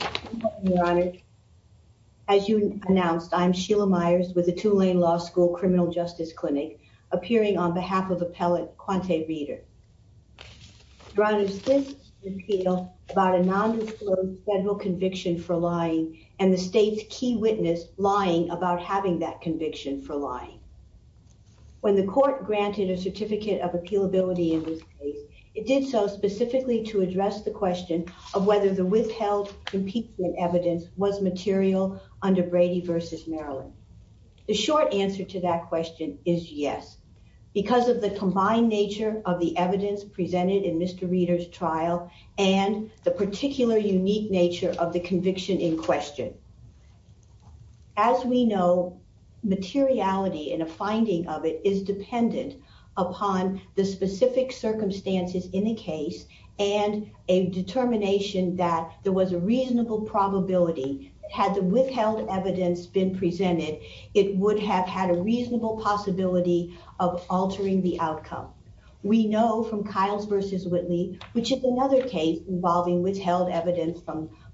Good morning, Your Honor. As you announced, I'm Sheila Myers with the Tulane Law School Criminal Justice Clinic, appearing on behalf of appellate Quanta Reeder. Your Honor, this is an appeal about a non-disclosed federal conviction for lying and the state's key witness lying about having that conviction for lying. When the court granted a certificate of appealability in this case, it did so specifically to address the question of whether the withheld impeachment evidence was material under Brady v. Maryland. The short answer to that question is yes, because of the combined nature of the evidence presented in Mr. Reeder's trial and the particular unique nature of the conviction in question. As we know, materiality in a finding of it is dependent upon the specific circumstances in the case and a determination that there was a reasonable probability had the withheld evidence been presented, it would have had a reasonable possibility of altering the outcome. We know from Kiles v. Whitley, which is another case involving withheld evidence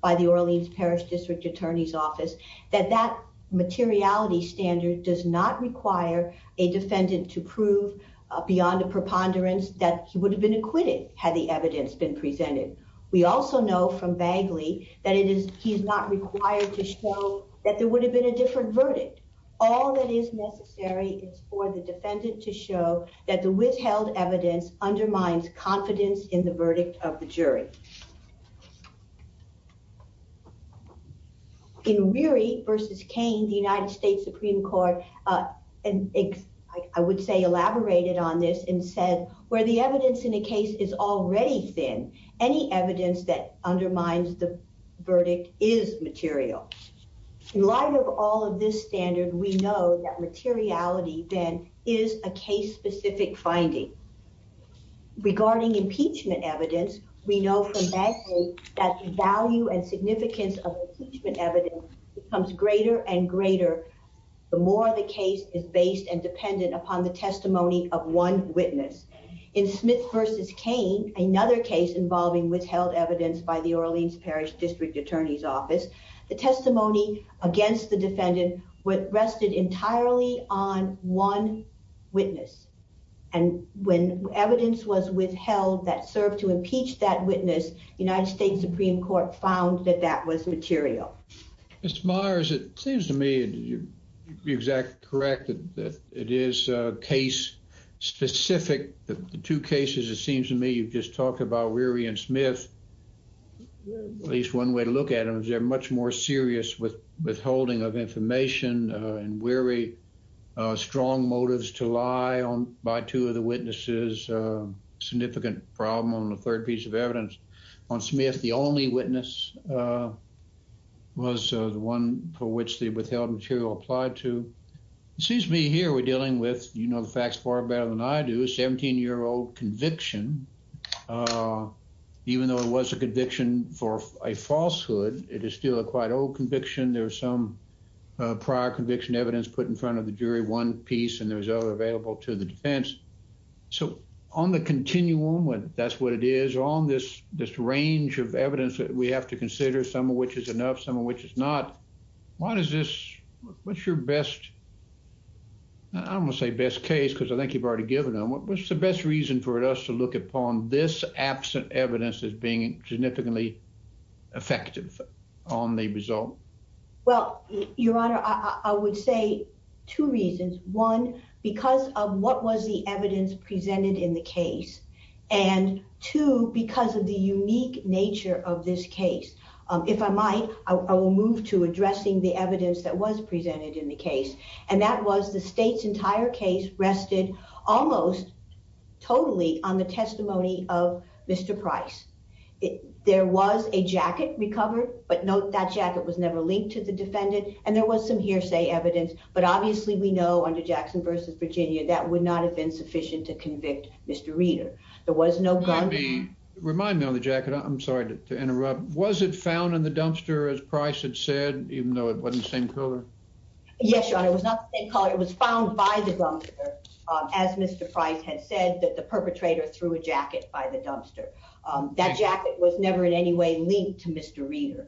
by the Orleans Parish District Attorney's Office, that that materiality standard does not require a defendant to prove beyond a preponderance that he would have been acquitted had the evidence been presented. We also know from Bagley that he is not required to show that there would have been a different verdict. All that is necessary is for the defendant to show that the withheld evidence undermines confidence in the verdict of the jury. In Reary v. Cain, the United States Supreme Court, I would say elaborated on this and said, where the evidence in a case is already thin, any evidence that undermines the verdict is material. In light of all of this standard, we know that materiality then is a case-specific finding. Regarding impeachment evidence, we know from Bagley that the value and significance of impeachment evidence becomes greater and greater the more the case is based and dependent upon the testimony of one witness. In Smith v. Cain, another case involving withheld evidence by the Orleans Parish District Attorney's Office, the testimony against the defendant rested entirely on one witness. And when evidence was withheld that served to impeach that witness, United States Supreme Court found that that was material. Mr. Myers, it seems to me that you're exactly correct that it is case-specific. The two cases, it seems to me, you've just talked about Reary and Smith. At least one way to look at them is they're much more serious with withholding of information and Reary, strong motives to lie by two of the witnesses, significant problem on the third piece of evidence. On Smith, the only witness was the one for which the withheld material applied to. It seems to me here we're dealing with, you know the facts far better than I do, a 17-year-old conviction. Even though it was a conviction for a falsehood, it is still a quite old conviction. There was some prior conviction evidence put in front of the jury, one piece, and there was other available to the defense. So on the continuum, that's what it is, is on this range of evidence that we have to consider, some of which is enough, some of which is not. Why does this, what's your best, I don't wanna say best case because I think you've already given them. What's the best reason for us to look upon this absent evidence as being significantly effective on the result? Well, Your Honor, I would say two reasons. One, because of what was the evidence presented in the case. And two, because of the unique nature of this case. If I might, I will move to addressing the evidence that was presented in the case. And that was the state's entire case rested almost totally on the testimony of Mr. Price. There was a jacket recovered, but note that jacket was never linked to the defendant. And there was some hearsay evidence, but obviously we know under Jackson v. Virginia, that would not have been sufficient to convict Mr. Reeder. There was no gun. Remind me on the jacket, I'm sorry to interrupt. Was it found in the dumpster as Price had said, even though it wasn't the same color? Yes, Your Honor, it was not the same color. It was found by the dumpster as Mr. Price had said that the perpetrator threw a jacket by the dumpster. That jacket was never in any way linked to Mr. Reeder.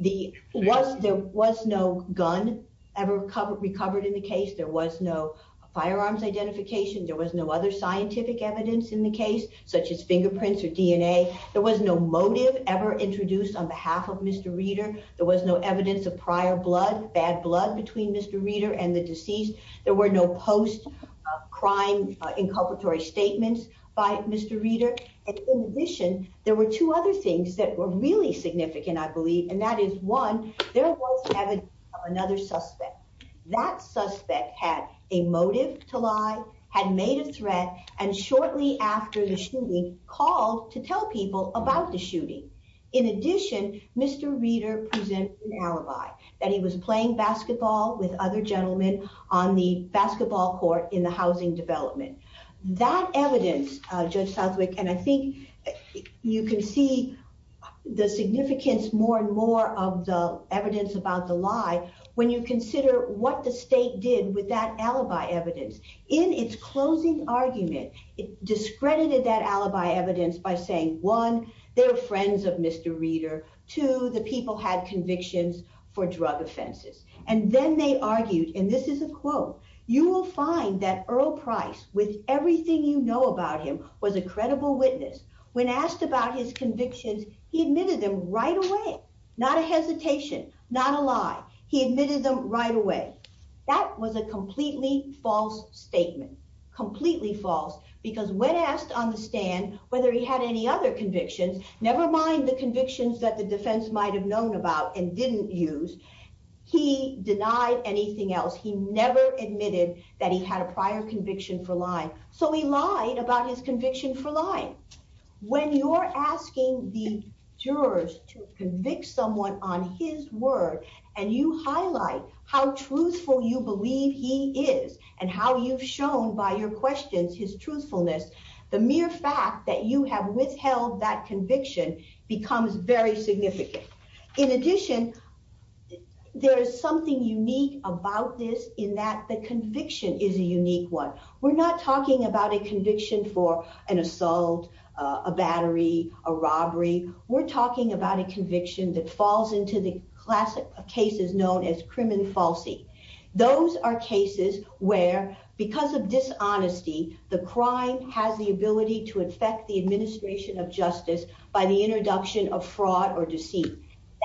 There was no gun ever recovered in the case. There was no firearms identification. There was no other scientific evidence in the case, such as fingerprints or DNA. There was no motive ever introduced on behalf of Mr. Reeder. There was no evidence of prior blood, bad blood between Mr. Reeder and the deceased. There were no post-crime inculpatory statements by Mr. Reeder. And in addition, there were two other things that were really significant, I believe, and that is one, there was evidence of another suspect. That suspect had a motive to lie, had made a threat, and shortly after the shooting, called to tell people about the shooting. In addition, Mr. Reeder presented an alibi that he was playing basketball with other gentlemen on the basketball court in the housing development. That evidence, Judge Southwick, and I think you can see the significance more and more of the evidence about the lie when you consider what the state did with that alibi evidence. In its closing argument, it discredited that alibi evidence by saying, one, they were friends of Mr. Reeder, two, the people had convictions for drug offenses. And then they argued, and this is a quote, you will find that Earl Price, with everything you know about him, was a credible witness. he admitted them right away. Not a hesitation, not a lie. He admitted them right away. That was a completely false statement, completely false, because when asked on the stand whether he had any other convictions, nevermind the convictions that the defense might've known about and didn't use, he denied anything else. He never admitted that he had a prior conviction for lying. So he lied about his conviction for lying. When you're asking the jurors to convict someone on his word and you highlight how truthful you believe he is and how you've shown by your questions his truthfulness, the mere fact that you have withheld that conviction becomes very significant. In addition, there is something unique about this in that the conviction is a unique one. We're not talking about a conviction for an assault, a battery, a robbery. We're talking about a conviction that falls into the classic cases known as crim and falsi. Those are cases where because of dishonesty, the crime has the ability to affect the administration of justice by the introduction of fraud or deceit.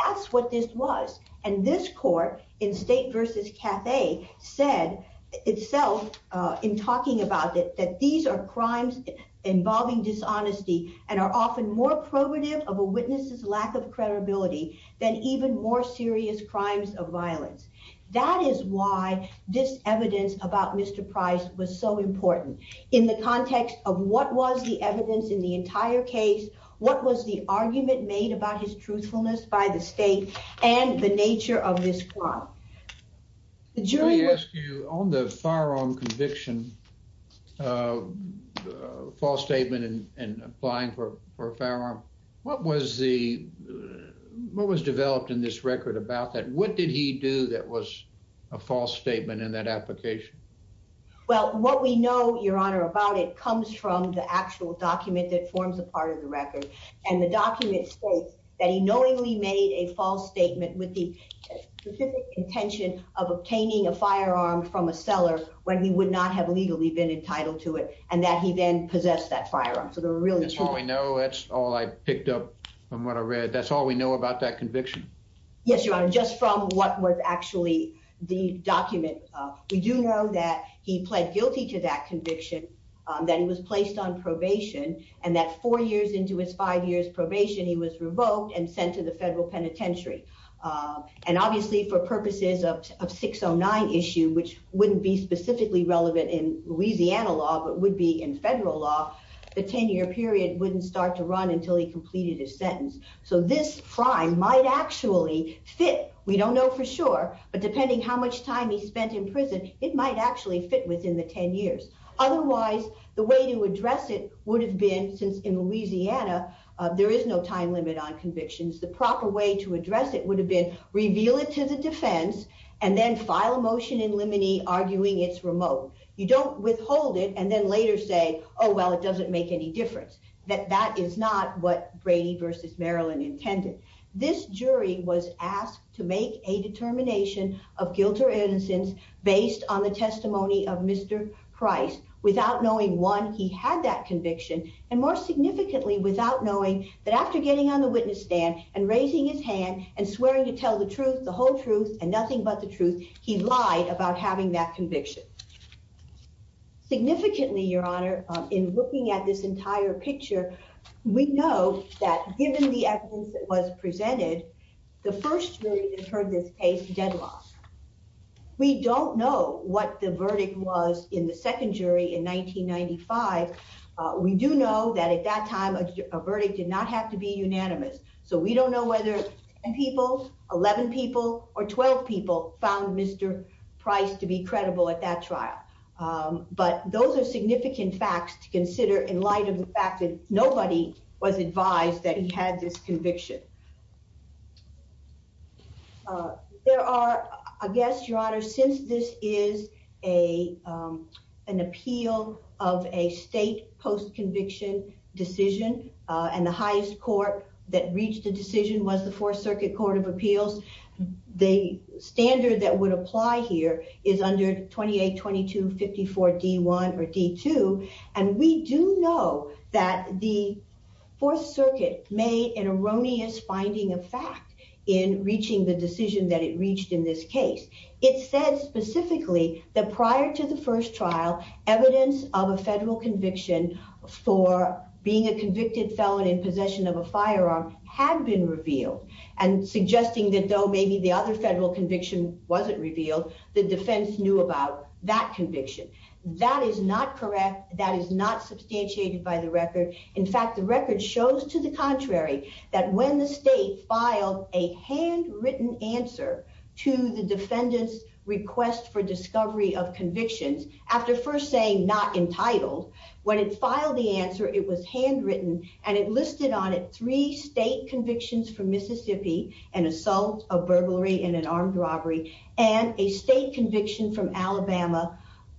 That's what this was. And this court in State v. Cathay said itself in talking about it, that these are crimes involving dishonesty and are often more probative of a witness's lack of credibility than even more serious crimes of violence. That is why this evidence about Mr. Price was so important in the context of what was the evidence in the entire case, what was the argument made about his truthfulness by the state and the nature of this plot. The jury was- Let me ask you, on the firearm conviction, false statement and applying for a firearm, what was developed in this record about that? What did he do that was a false statement in that application? Well, what we know, Your Honor, about it comes from the actual document that forms a part of the record. And the document states that he knowingly made a false statement with the specific intention of obtaining a firearm from a seller when he would not have legally been entitled to it and that he then possessed that firearm. So there were really two- That's all we know. That's all I picked up from what I read. That's all we know about that conviction. Yes, Your Honor, just from what was actually the document, we do know that he pled guilty to that conviction, that he was placed on probation, and that four years into his five years probation, he was revoked and sent to the federal penitentiary. And obviously, for purposes of 609 issue, which wouldn't be specifically relevant in Louisiana law, but would be in federal law, the 10-year period wouldn't start to run until he completed his sentence. So this crime might actually fit. We don't know for sure, but depending how much time he spent in prison, it might actually fit within the 10 years. Otherwise, the way to address it would have been, since in Louisiana, there is no time limit on convictions, the proper way to address it would have been reveal it to the defense and then file a motion in limine arguing it's remote. You don't withhold it and then later say, oh, well, it doesn't make any difference, that that is not what Brady versus Maryland intended. This jury was asked to make a determination of guilt or innocence based on the testimony of Mr. Price, without knowing one, he had that conviction, and more significantly, without knowing that after getting on the witness stand and raising his hand and swearing to tell the truth, the whole truth and nothing but the truth, he lied about having that conviction. Significantly, Your Honor, in looking at this entire picture, we know that given the evidence that was presented, the first jury that heard this case deadlocked. We don't know what the verdict was in the second jury in 1995. We do know that at that time, a verdict did not have to be unanimous. So we don't know whether 10 people, 11 people, or 12 people found Mr. Price to be credible at that trial. But those are significant facts to consider in light of the fact that nobody was advised that he had this conviction. There are, I guess, Your Honor, since this is an appeal of a state post-conviction decision, and the highest court that reached a decision was the Fourth Circuit Court of Appeals, the standard that would apply here is under 28-22-54-D1 or D2. And we do know that the Fourth Circuit made an erroneous finding of fact in reaching the decision that it reached in this case. It said specifically that prior to the first trial, evidence of a federal conviction for being a convicted felon in possession of a firearm had been revealed, and suggesting that though maybe the other federal conviction wasn't revealed, the defense knew about that conviction. That is not correct. That is not substantiated by the record. In fact, the record shows to the contrary that when the state filed a handwritten answer to the defendant's request for discovery of convictions, after first saying not entitled, when it filed the answer, it was handwritten, and it listed on it three state convictions for Mississippi, an assault, a burglary, and an armed robbery, and a state conviction from Alabama,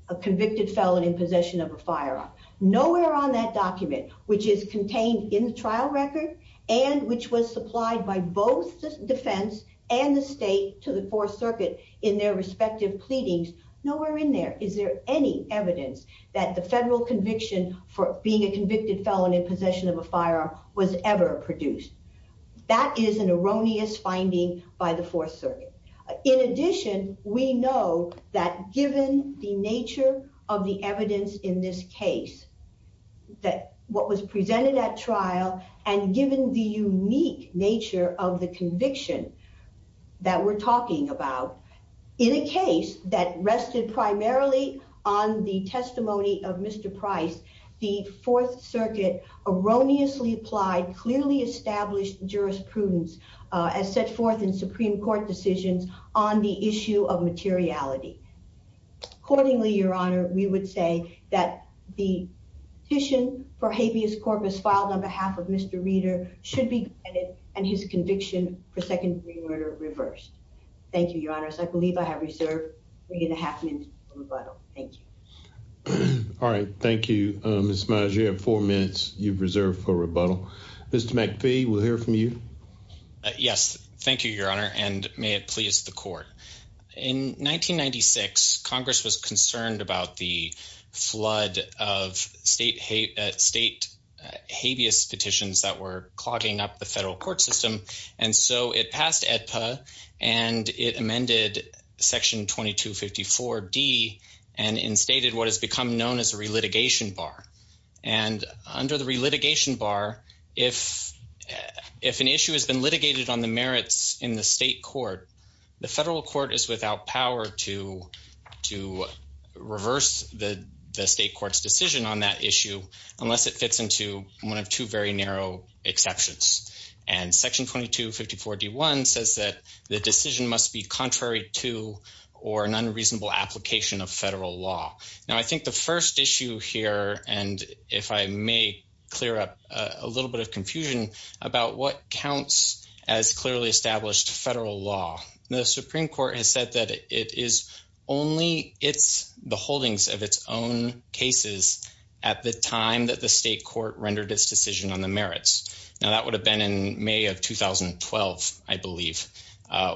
a convicted felon in possession of a firearm. Nowhere on that document, which is contained in the trial record, and which was supplied by both the defense and the state to the Fourth Circuit in their respective pleadings, nowhere in there is there any evidence that the federal conviction for being a convicted felon in possession of a firearm was ever produced. That is an erroneous finding by the Fourth Circuit. In addition, we know that given the nature of the evidence in this case, that what was presented at trial, and given the unique nature of the conviction that we're talking about, in a case that rested primarily on the testimony of Mr. Price, the Fourth Circuit erroneously applied, clearly established jurisprudence as set forth in Supreme Court decisions on the issue of materiality. Accordingly, Your Honor, we would say that the petition for habeas corpus filed on behalf of Mr. Reader should be granted, and his conviction for second degree murder reversed. Thank you, Your Honors. I believe I have reserved three and a half minutes for rebuttal, thank you. All right, thank you, Ms. Meyers. You have four minutes you've reserved for rebuttal. Mr. McPhee, we'll hear from you. Yes, thank you, Your Honor, and may it please the court. In 1996, Congress was concerned about the flood of state habeas petitions that were clogging up the federal court system, and so it passed AEDPA, and it amended Section 2254D, and instated what has become known as a relitigation bar. And under the relitigation bar, if an issue has been litigated on the merits in the state court, the federal court is without power to reverse the state court's decision on that issue, unless it fits into one of two very narrow exceptions. And Section 2254D1 says that the decision must be contrary to, or an unreasonable application of federal law. Now, I think the first issue here, and if I may clear up a little bit of confusion about what counts as clearly established federal law, the Supreme Court has said that it is only it's the holdings of its own cases at the time that the state court rendered its decision on the merits. Now, that would have been in May of 2012, I believe.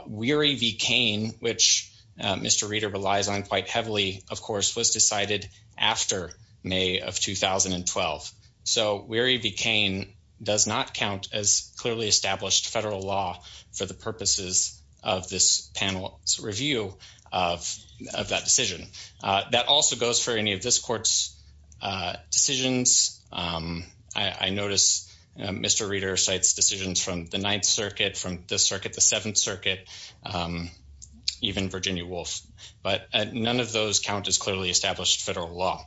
Weary v. Cain, which Mr. Reeder relies on quite heavily, of course, was decided after May of 2012. So Weary v. Cain does not count as clearly established federal law for the purposes of this panel's review of that decision. That also goes for any of this court's decisions. I notice Mr. Reeder cites decisions from the Ninth Circuit, from this circuit, the Seventh Circuit, even Virginia Woolf. But none of those count as clearly established federal law.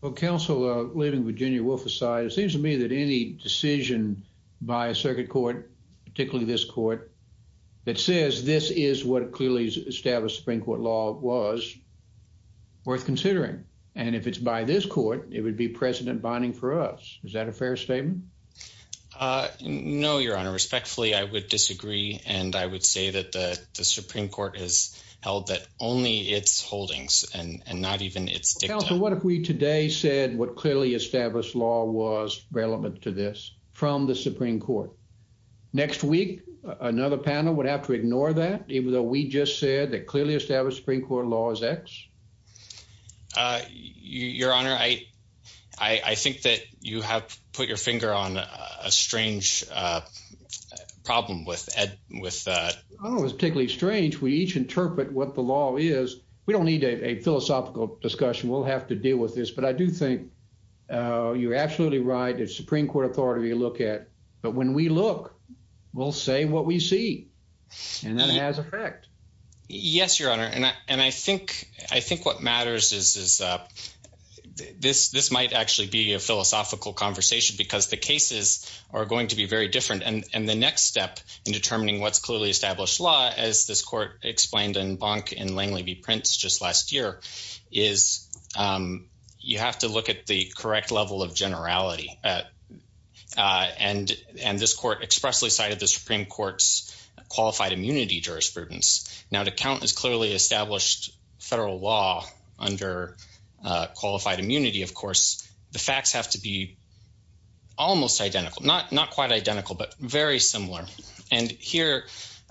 Well, counsel, leaving Virginia Woolf aside, it seems to me that any decision by a circuit court, particularly this court, that says this is what clearly established Supreme Court law was, worth considering. And if it's by this court, it would be precedent-binding for us. Is that a fair statement? No, Your Honor. Respectfully, I would disagree, and I would say that the Supreme Court has held that only its holdings, and not even its dicta. Well, counsel, what if we today said what clearly established law was relevant to this, from the Supreme Court? Next week, another panel would have to ignore that, even though we just said that clearly established Supreme Court law is X? Your Honor, I think that you have put your finger on a strange problem with that. Your Honor, what's particularly strange, we each interpret what the law is. We don't need a philosophical discussion. We'll have to deal with this, but I do think you're absolutely right. It's Supreme Court authority to look at, but when we look, we'll say what we see, and that has effect. Yes, Your Honor, and I think what matters is this might actually be a philosophical conversation, because the cases are going to be very different, and the next step in determining what's clearly established law, as this court explained in Bonk and Langley v. Prince just last year, is you have to look at the correct level of generality, and this court expressly cited the Supreme Court's qualified immunity jurisprudence. Now, to count as clearly established federal law under qualified immunity, of course, the facts have to be almost identical, not quite identical, but very similar, and here,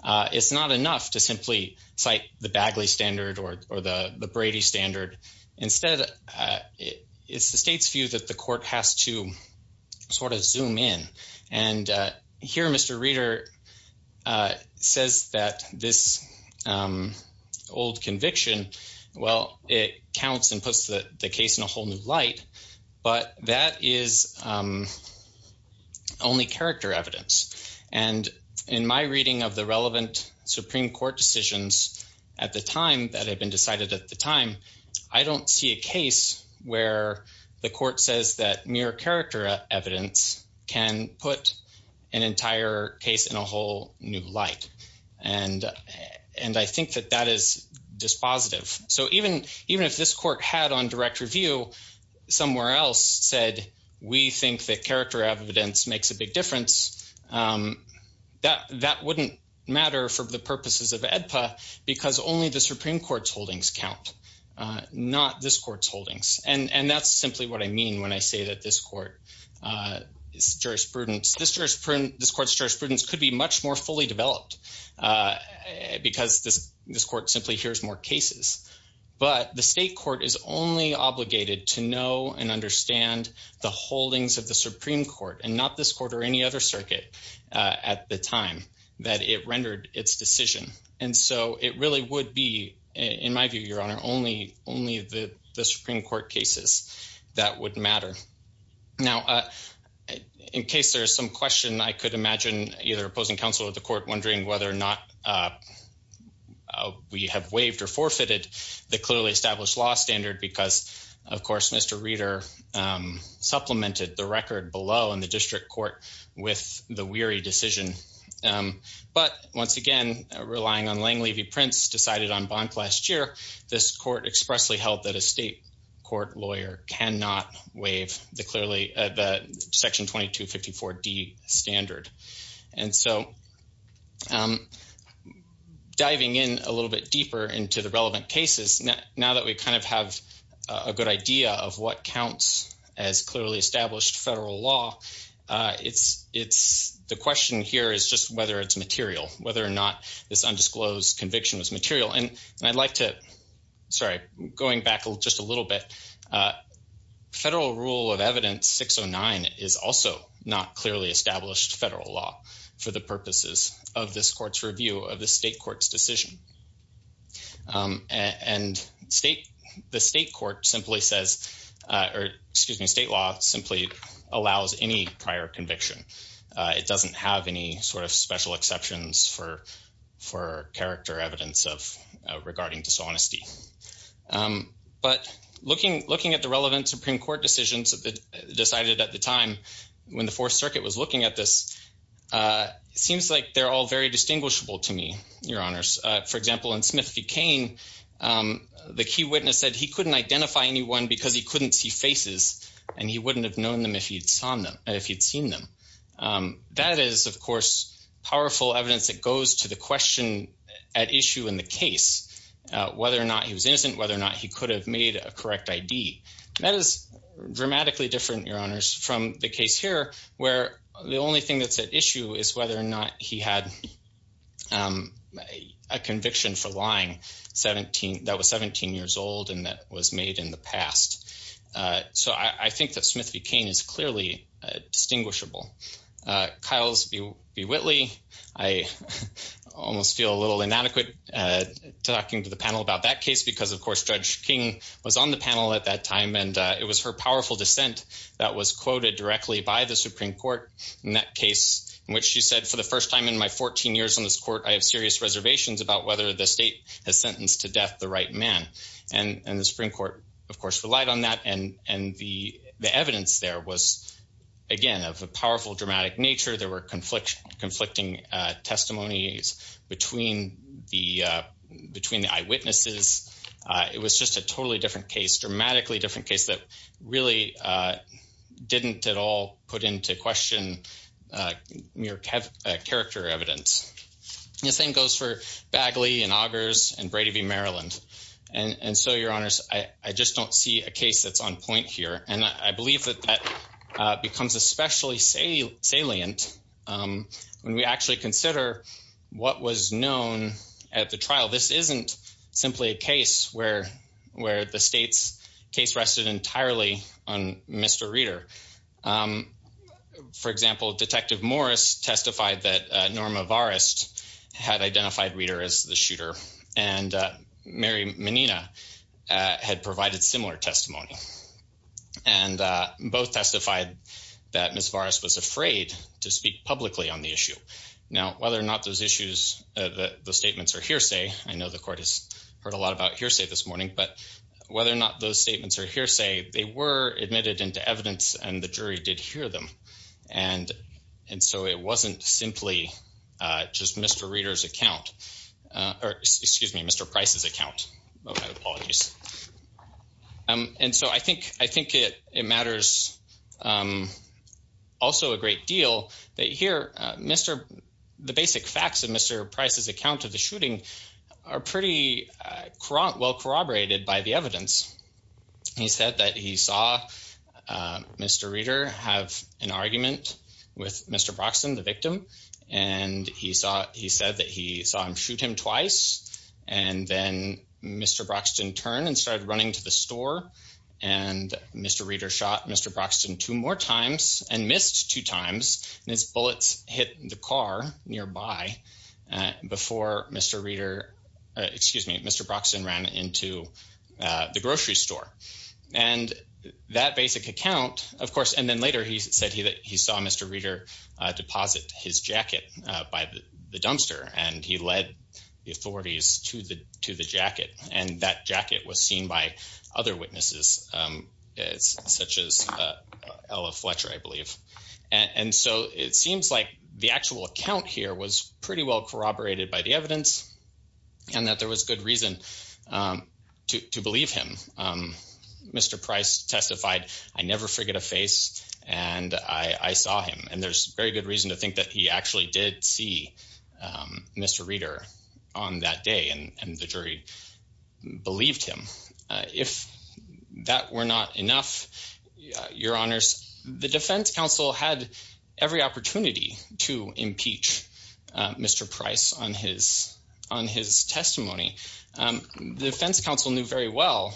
it's not enough to simply cite the Bagley standard or the Brady standard. Instead, it's the state's view that the court has to sort of zoom in, and here, Mr. Reeder says that this old conviction, well, it counts and puts the case in a whole new light, but that is only character evidence, and in my reading of the relevant Supreme Court decisions at the time that had been decided at the time, I don't see a case where the court says that mere character evidence can put an entire case in a whole new light, and I think that that is dispositive, so even if this court had on direct review somewhere else said, we think that character evidence makes a big difference, that wouldn't matter for the purposes of AEDPA because only the Supreme Court's holdings count, not this court's holdings, and that's simply what I mean when I say that this court's jurisprudence could be much more fully developed because this court simply hears more cases, but the state court is only obligated to know and understand the holdings of the Supreme Court, and not this court or any other circuit at the time that it rendered its decision, and so it really would be, in my view, Your Honor, only the Supreme Court cases that would matter. Now, in case there is some question, I could imagine either opposing counsel or the court wondering whether or not we have waived or forfeited the clearly established law standard because, of course, Mr. Reeder supplemented the record below in the district court with the weary decision, but once again, relying on Lang-Levy-Prince decided on Bonk last year, this court expressly held that a state court lawyer cannot waive the section 2254D standard, and so diving in a little bit deeper into the relevant cases, now that we kind of have a good idea of what counts as clearly established federal law, the question here is just whether it's material, whether or not this undisclosed conviction was material, and I'd like to, sorry, going back just a little bit, federal rule of evidence 609 is also not clearly established federal law for the purposes of this court's review of the state court's decision, and the state court simply says, or excuse me, state law simply allows any prior conviction. It doesn't have any sort of special exceptions for character evidence of regarding dishonesty, but looking at the relevant Supreme Court decisions decided at the time when the Fourth Circuit was looking at this, it seems like they're all very distinguishable to me, Your Honors. For example, in Smith v. Cain, the key witness said he couldn't identify anyone because he couldn't see faces, and he wouldn't have known them if he'd seen them. That is, of course, powerful evidence that goes to the question at issue in the case, whether or not he was innocent, whether or not he could have made a correct ID. That is dramatically different, Your Honors, from the case here where the only thing that's at issue is whether or not he had a conviction for lying that was 17 years old and that was made in the past. So I think that Smith v. Cain is clearly distinguishable. Kyles v. Whitley, I almost feel a little inadequate talking to the panel about that case because, of course, Judge King was on the panel at that time, and it was her powerful dissent that was quoted directly by the Supreme Court in that case in which she said, for the first time in my 14 years on this court, I have serious reservations about whether the state has sentenced to death the right man. And the Supreme Court, of course, relied on that, and the evidence there was, again, of a powerful, dramatic nature. There were conflicting testimonies between the eyewitnesses. It was just a totally different case, dramatically different case that really didn't at all put into question mere character evidence. The same goes for Bagley and Augers and Brady v. Maryland. And so, Your Honors, I just don't see a case that's on point here. And I believe that that becomes especially salient when we actually consider what was known at the trial. This isn't simply a case where the state's case rested entirely on Mr. Reeder. For example, Detective Morris testified that Norma Varest had identified Reeder as the shooter, and Mary Menina had provided similar testimony. And both testified that Ms. Varest was afraid to speak publicly on the issue. Now, whether or not those statements are hearsay, I know the court has heard a lot about hearsay this morning, but whether or not those statements are hearsay, they were admitted into evidence and the jury did hear them. And so, it wasn't simply just Mr. Reeder's account, or excuse me, Mr. Price's account. Oh, my apologies. And so, I think it matters also a great deal that here, the basic facts of Mr. Price's account of the shooting are pretty well corroborated by the evidence. He said that he saw Mr. Reeder have an argument with Mr. Broxton, the victim, and he said that he saw him shoot him twice, and then Mr. Broxton turned and started running to the store and Mr. Reeder shot Mr. Broxton two more times and missed two times, and his bullets hit the car nearby before Mr. Reeder, excuse me, Mr. Broxton ran into the grocery store. And that basic account, of course, and then later he said he saw Mr. Reeder deposit his jacket by the dumpster and he led the authorities to the jacket, and that jacket was seen by other witnesses such as Ella Fletcher, I believe. And so, it seems like the actual account here was pretty well corroborated by the evidence and that there was good reason to believe him. Mr. Price testified, I never forget a face and I saw him, and there's very good reason to think that he actually did see Mr. Reeder on that day and the jury believed him. If that were not enough, your honors, the defense counsel had every opportunity to impeach Mr. Price on his testimony. The defense counsel knew very well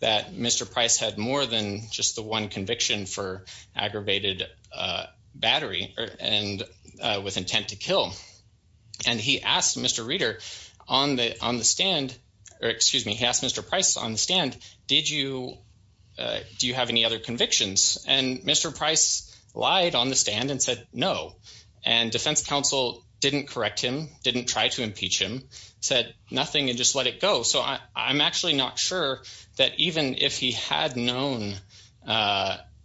that Mr. Price had more than just the one conviction for aggravated battery and with intent to kill. And he asked Mr. Reeder on the stand, or excuse me, he asked Mr. Price on the stand, do you have any other convictions? And Mr. Price lied on the stand and said, no, and defense counsel didn't correct him, didn't try to impeach him, said nothing and just let it go. So, I'm actually not sure that even if he had known,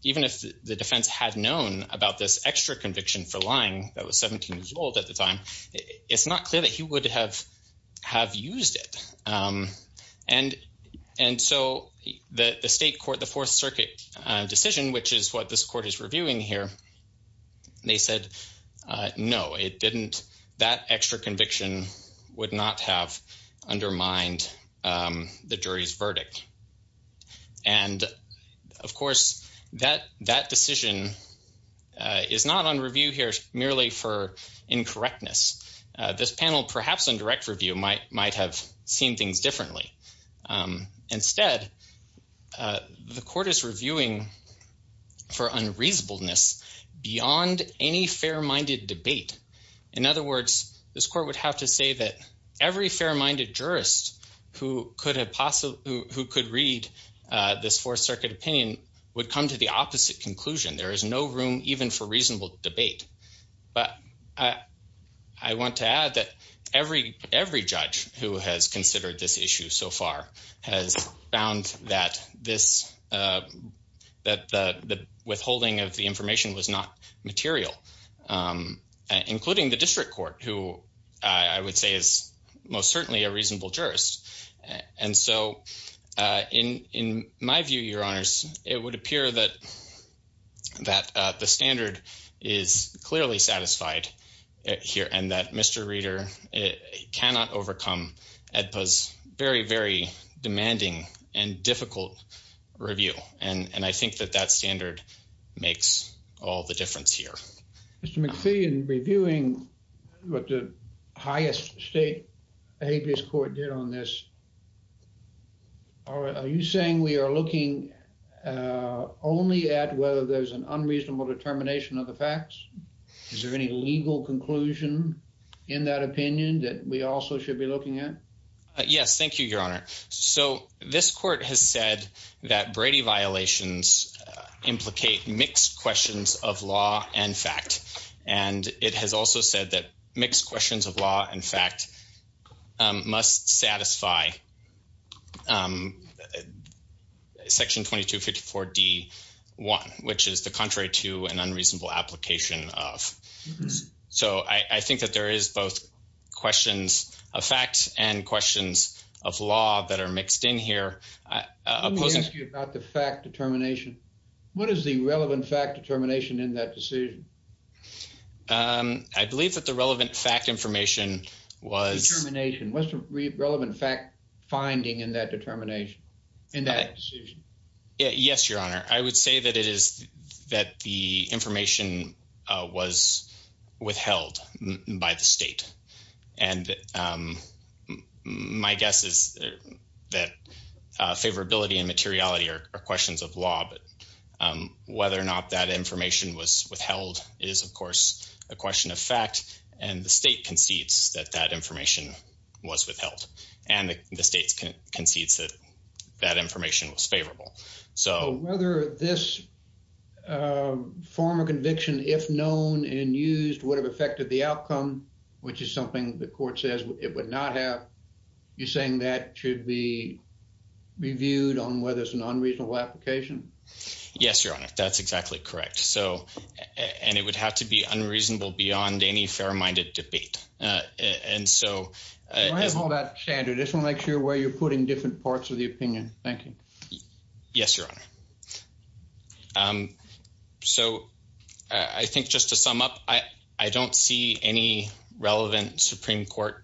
even if the defense had known about this extra conviction for lying that was 17 years old at the time, it's not clear that he would have used it. And so the state court, the Fourth Circuit decision, which is what this court is reviewing here, they said, no, it didn't, that extra conviction would not have undermined the jury's verdict. And of course, that decision is not on review here merely for incorrectness. This panel perhaps on direct review might have seen things differently. Instead, the court is reviewing for unreasonableness beyond any fair-minded debate. In other words, this court would have to say that every fair-minded jurist who could read this Fourth Circuit opinion would come to the opposite conclusion. There is no room even for reasonable debate. But I want to add that every judge who has considered this issue so far has found that the withholding of the information was not material, including the district court, who I would say is most certainly a reasonable jurist. And so in my view, Your Honors, it would appear that the standard is clearly satisfied here and that Mr. Reeder cannot overcome EDPA's very, very demanding and difficult review. And I think that that standard makes all the difference here. Mr. McPhee, in reviewing what the highest state habeas court did on this, are you saying we are looking only at whether there's an unreasonable determination of the facts? Is there any legal conclusion in that opinion that we also should be looking at? Yes, thank you, Your Honor. So this court has said that Brady violations implicate mixed questions of law and fact. And it has also said that mixed questions of law and fact must satisfy section 2254 D1, which is the contrary to an unreasonable application of. So I think that there is both questions of facts and questions of law that are mixed in here. Let me ask you about the fact determination. What is the relevant fact determination in that decision? I believe that the relevant fact information was- Relevant fact finding in that determination, in that decision. Yes, Your Honor. I would say that it is that the information was withheld by the state. And my guess is that favorability and materiality are questions of law, but whether or not that information was withheld is of course a question of fact. And the state concedes that that information was withheld and the state concedes that that information was favorable. So- Whether this form of conviction, if known and used would have affected the outcome, which is something the court says it would not have, you're saying that should be reviewed on whether it's an unreasonable application? Yes, Your Honor. That's exactly correct. So, and it would have to be unreasonable beyond any fair-minded debate. And so- I have all that standard. This will make sure where you're putting different parts of the opinion. Thank you. Yes, Your Honor. So, I think just to sum up, I don't see any relevant Supreme Court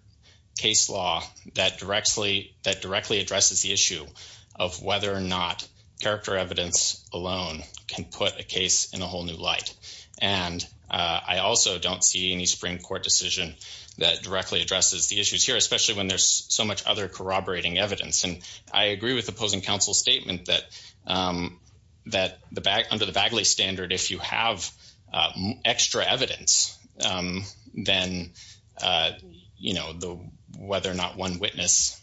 case law that directly addresses the issue of whether or not character evidence alone can put a case in a whole new light. And I also don't see any Supreme Court decision that directly addresses the issues here, especially when there's so much other corroborating evidence. And I agree with opposing counsel's statement that under the Bagley standard, if you have extra evidence, then whether or not one witness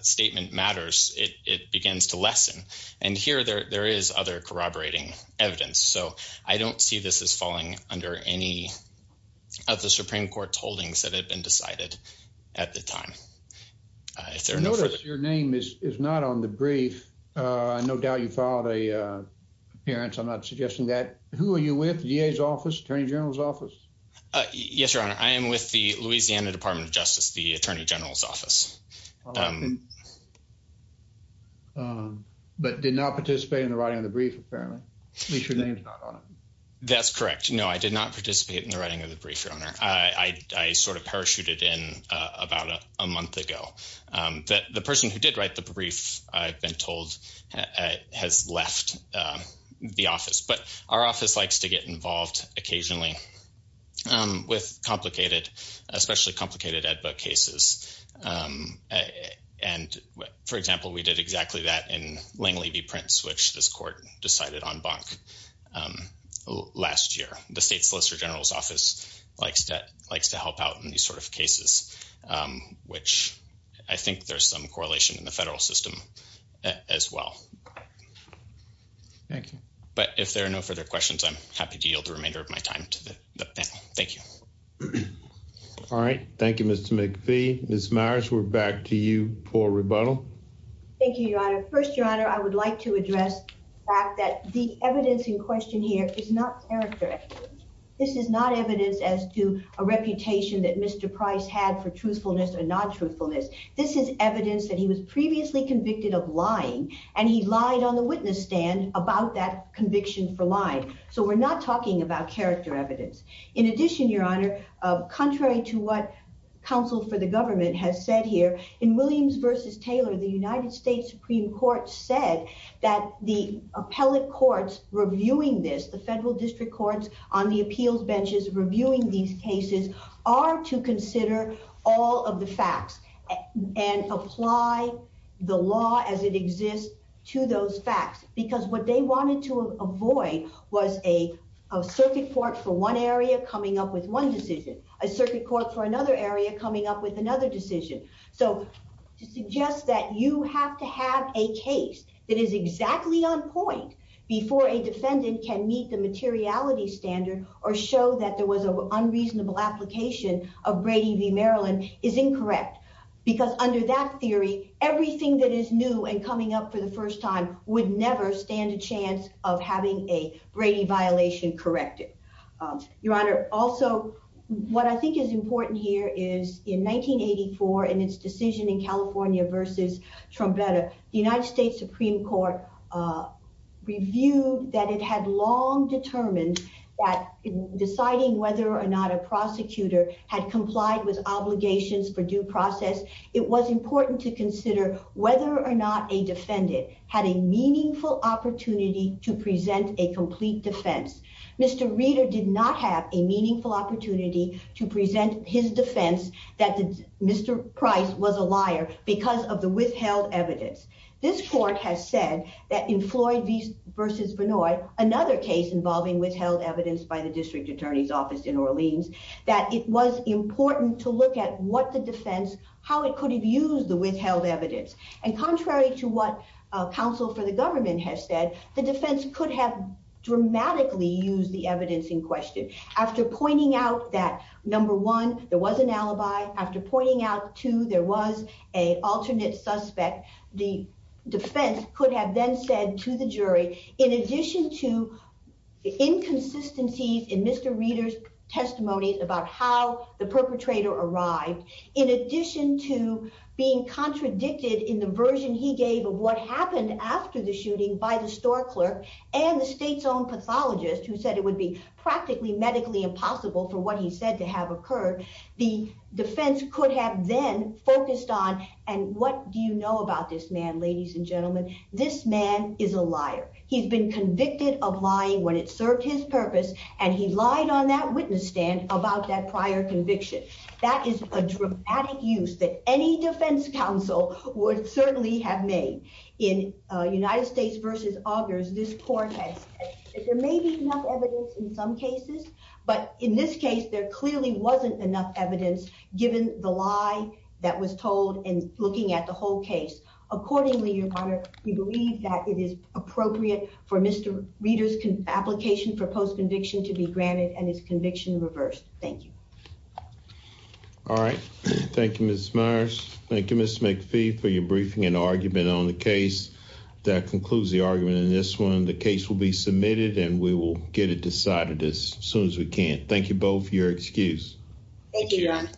statement matters, it begins to lessen. And here there is other corroborating evidence. So, I don't see this as falling under any of the Supreme Court's holdings that had been decided at the time. If there are no further- I notice your name is not on the brief. I no doubt you filed a appearance. I'm not suggesting that. Who are you with, the DA's office, Attorney General's office? Yes, Your Honor. I am with the Louisiana Department of Justice, the Attorney General's office. But did not participate in the writing of the brief, apparently. At least your name's not on it. That's correct. No, I did not participate in the writing of the brief, Your Honor. I sort of parachuted in about a month ago. The person who did write the brief, I've been told, has left the office. But our office likes to get involved occasionally with complicated, especially complicated ad book cases. And for example, we did exactly that in Langley v. Prince, which this court decided on bunk last year. The State Solicitor General's office likes to help out in these sort of cases, which I think there's some correlation in the federal system as well. Thank you. But if there are no further questions, I'm happy to yield the remainder of my time to the panel. Thank you. All right, thank you, Mr. McPhee. Ms. Myers, we're back to you for rebuttal. Thank you, Your Honor. First, Your Honor, I would like to address the fact that the evidence in question here is not character. This is not evidence as to a reputation that Mr. Price had for truthfulness or non-truthfulness. This is evidence that he was previously convicted of lying, and he lied on the witness stand about that conviction for lying. So we're not talking about character evidence. In addition, Your Honor, contrary to what counsel for the government has said here, in Williams v. Taylor, the United States Supreme Court said that the appellate courts reviewing this, the federal district courts on the appeals benches reviewing these cases are to consider all of the facts and apply the law as it exists to those facts, because what they wanted to avoid was a circuit court for one area coming up with one decision, a circuit court for another area coming up with another decision. So to suggest that you have to have a case that is exactly on point before a defendant can meet the materiality standard or show that there was an unreasonable application of Brady v. Maryland is incorrect, because under that theory, everything that is new and coming up for the first time would never stand a chance of having a Brady violation corrected. Your Honor, also, what I think is important here is in 1984, in its decision in California v. Trombetta, the United States Supreme Court reviewed that it had long determined that in deciding whether or not a prosecutor had complied with obligations for due process, it was important to consider whether or not a defendant had a meaningful opportunity to present a complete defense. Mr. Reeder did not have a meaningful opportunity to present his defense that Mr. Price was a liar because of the withheld evidence. This court has said that in Floyd v. Vinoy, another case involving withheld evidence by the district attorney's office in Orleans, that it was important to look at what the defense, how it could have used the withheld evidence. And contrary to what counsel for the government has said, the defense could have dramatically used the evidence in question. After pointing out that, number one, there was an alibi, after pointing out, two, there was a alternate suspect, the defense could have then said to the jury, in addition to inconsistencies in Mr. Reeder's testimonies about how the perpetrator arrived, in addition to being contradicted in the version he gave of what happened after the shooting by the store clerk and the state's own pathologist, who said it would be practically medically impossible for what he said to have occurred, the defense could have then focused on, and what do you know about this man, ladies and gentlemen? This man is a liar. He's been convicted of lying when it served his purpose, and he lied on that witness stand about that prior conviction. That is a dramatic use that any defense counsel would certainly have made. In United States v. Augers, this court has said that there may be enough evidence in some cases, but in this case, there clearly wasn't enough evidence given the lie that was told in looking at the whole case. Accordingly, your Honor, we believe that it is appropriate for Mr. Reeder's application for post-conviction to be granted and his conviction reversed. Thank you. All right, thank you, Ms. Myers. Thank you, Ms. McPhee, for your briefing and argument on the case. That concludes the argument in this one. The case will be submitted, and we will get it decided as soon as we can. Thank you both for your excuse. Thank you, Your Honor.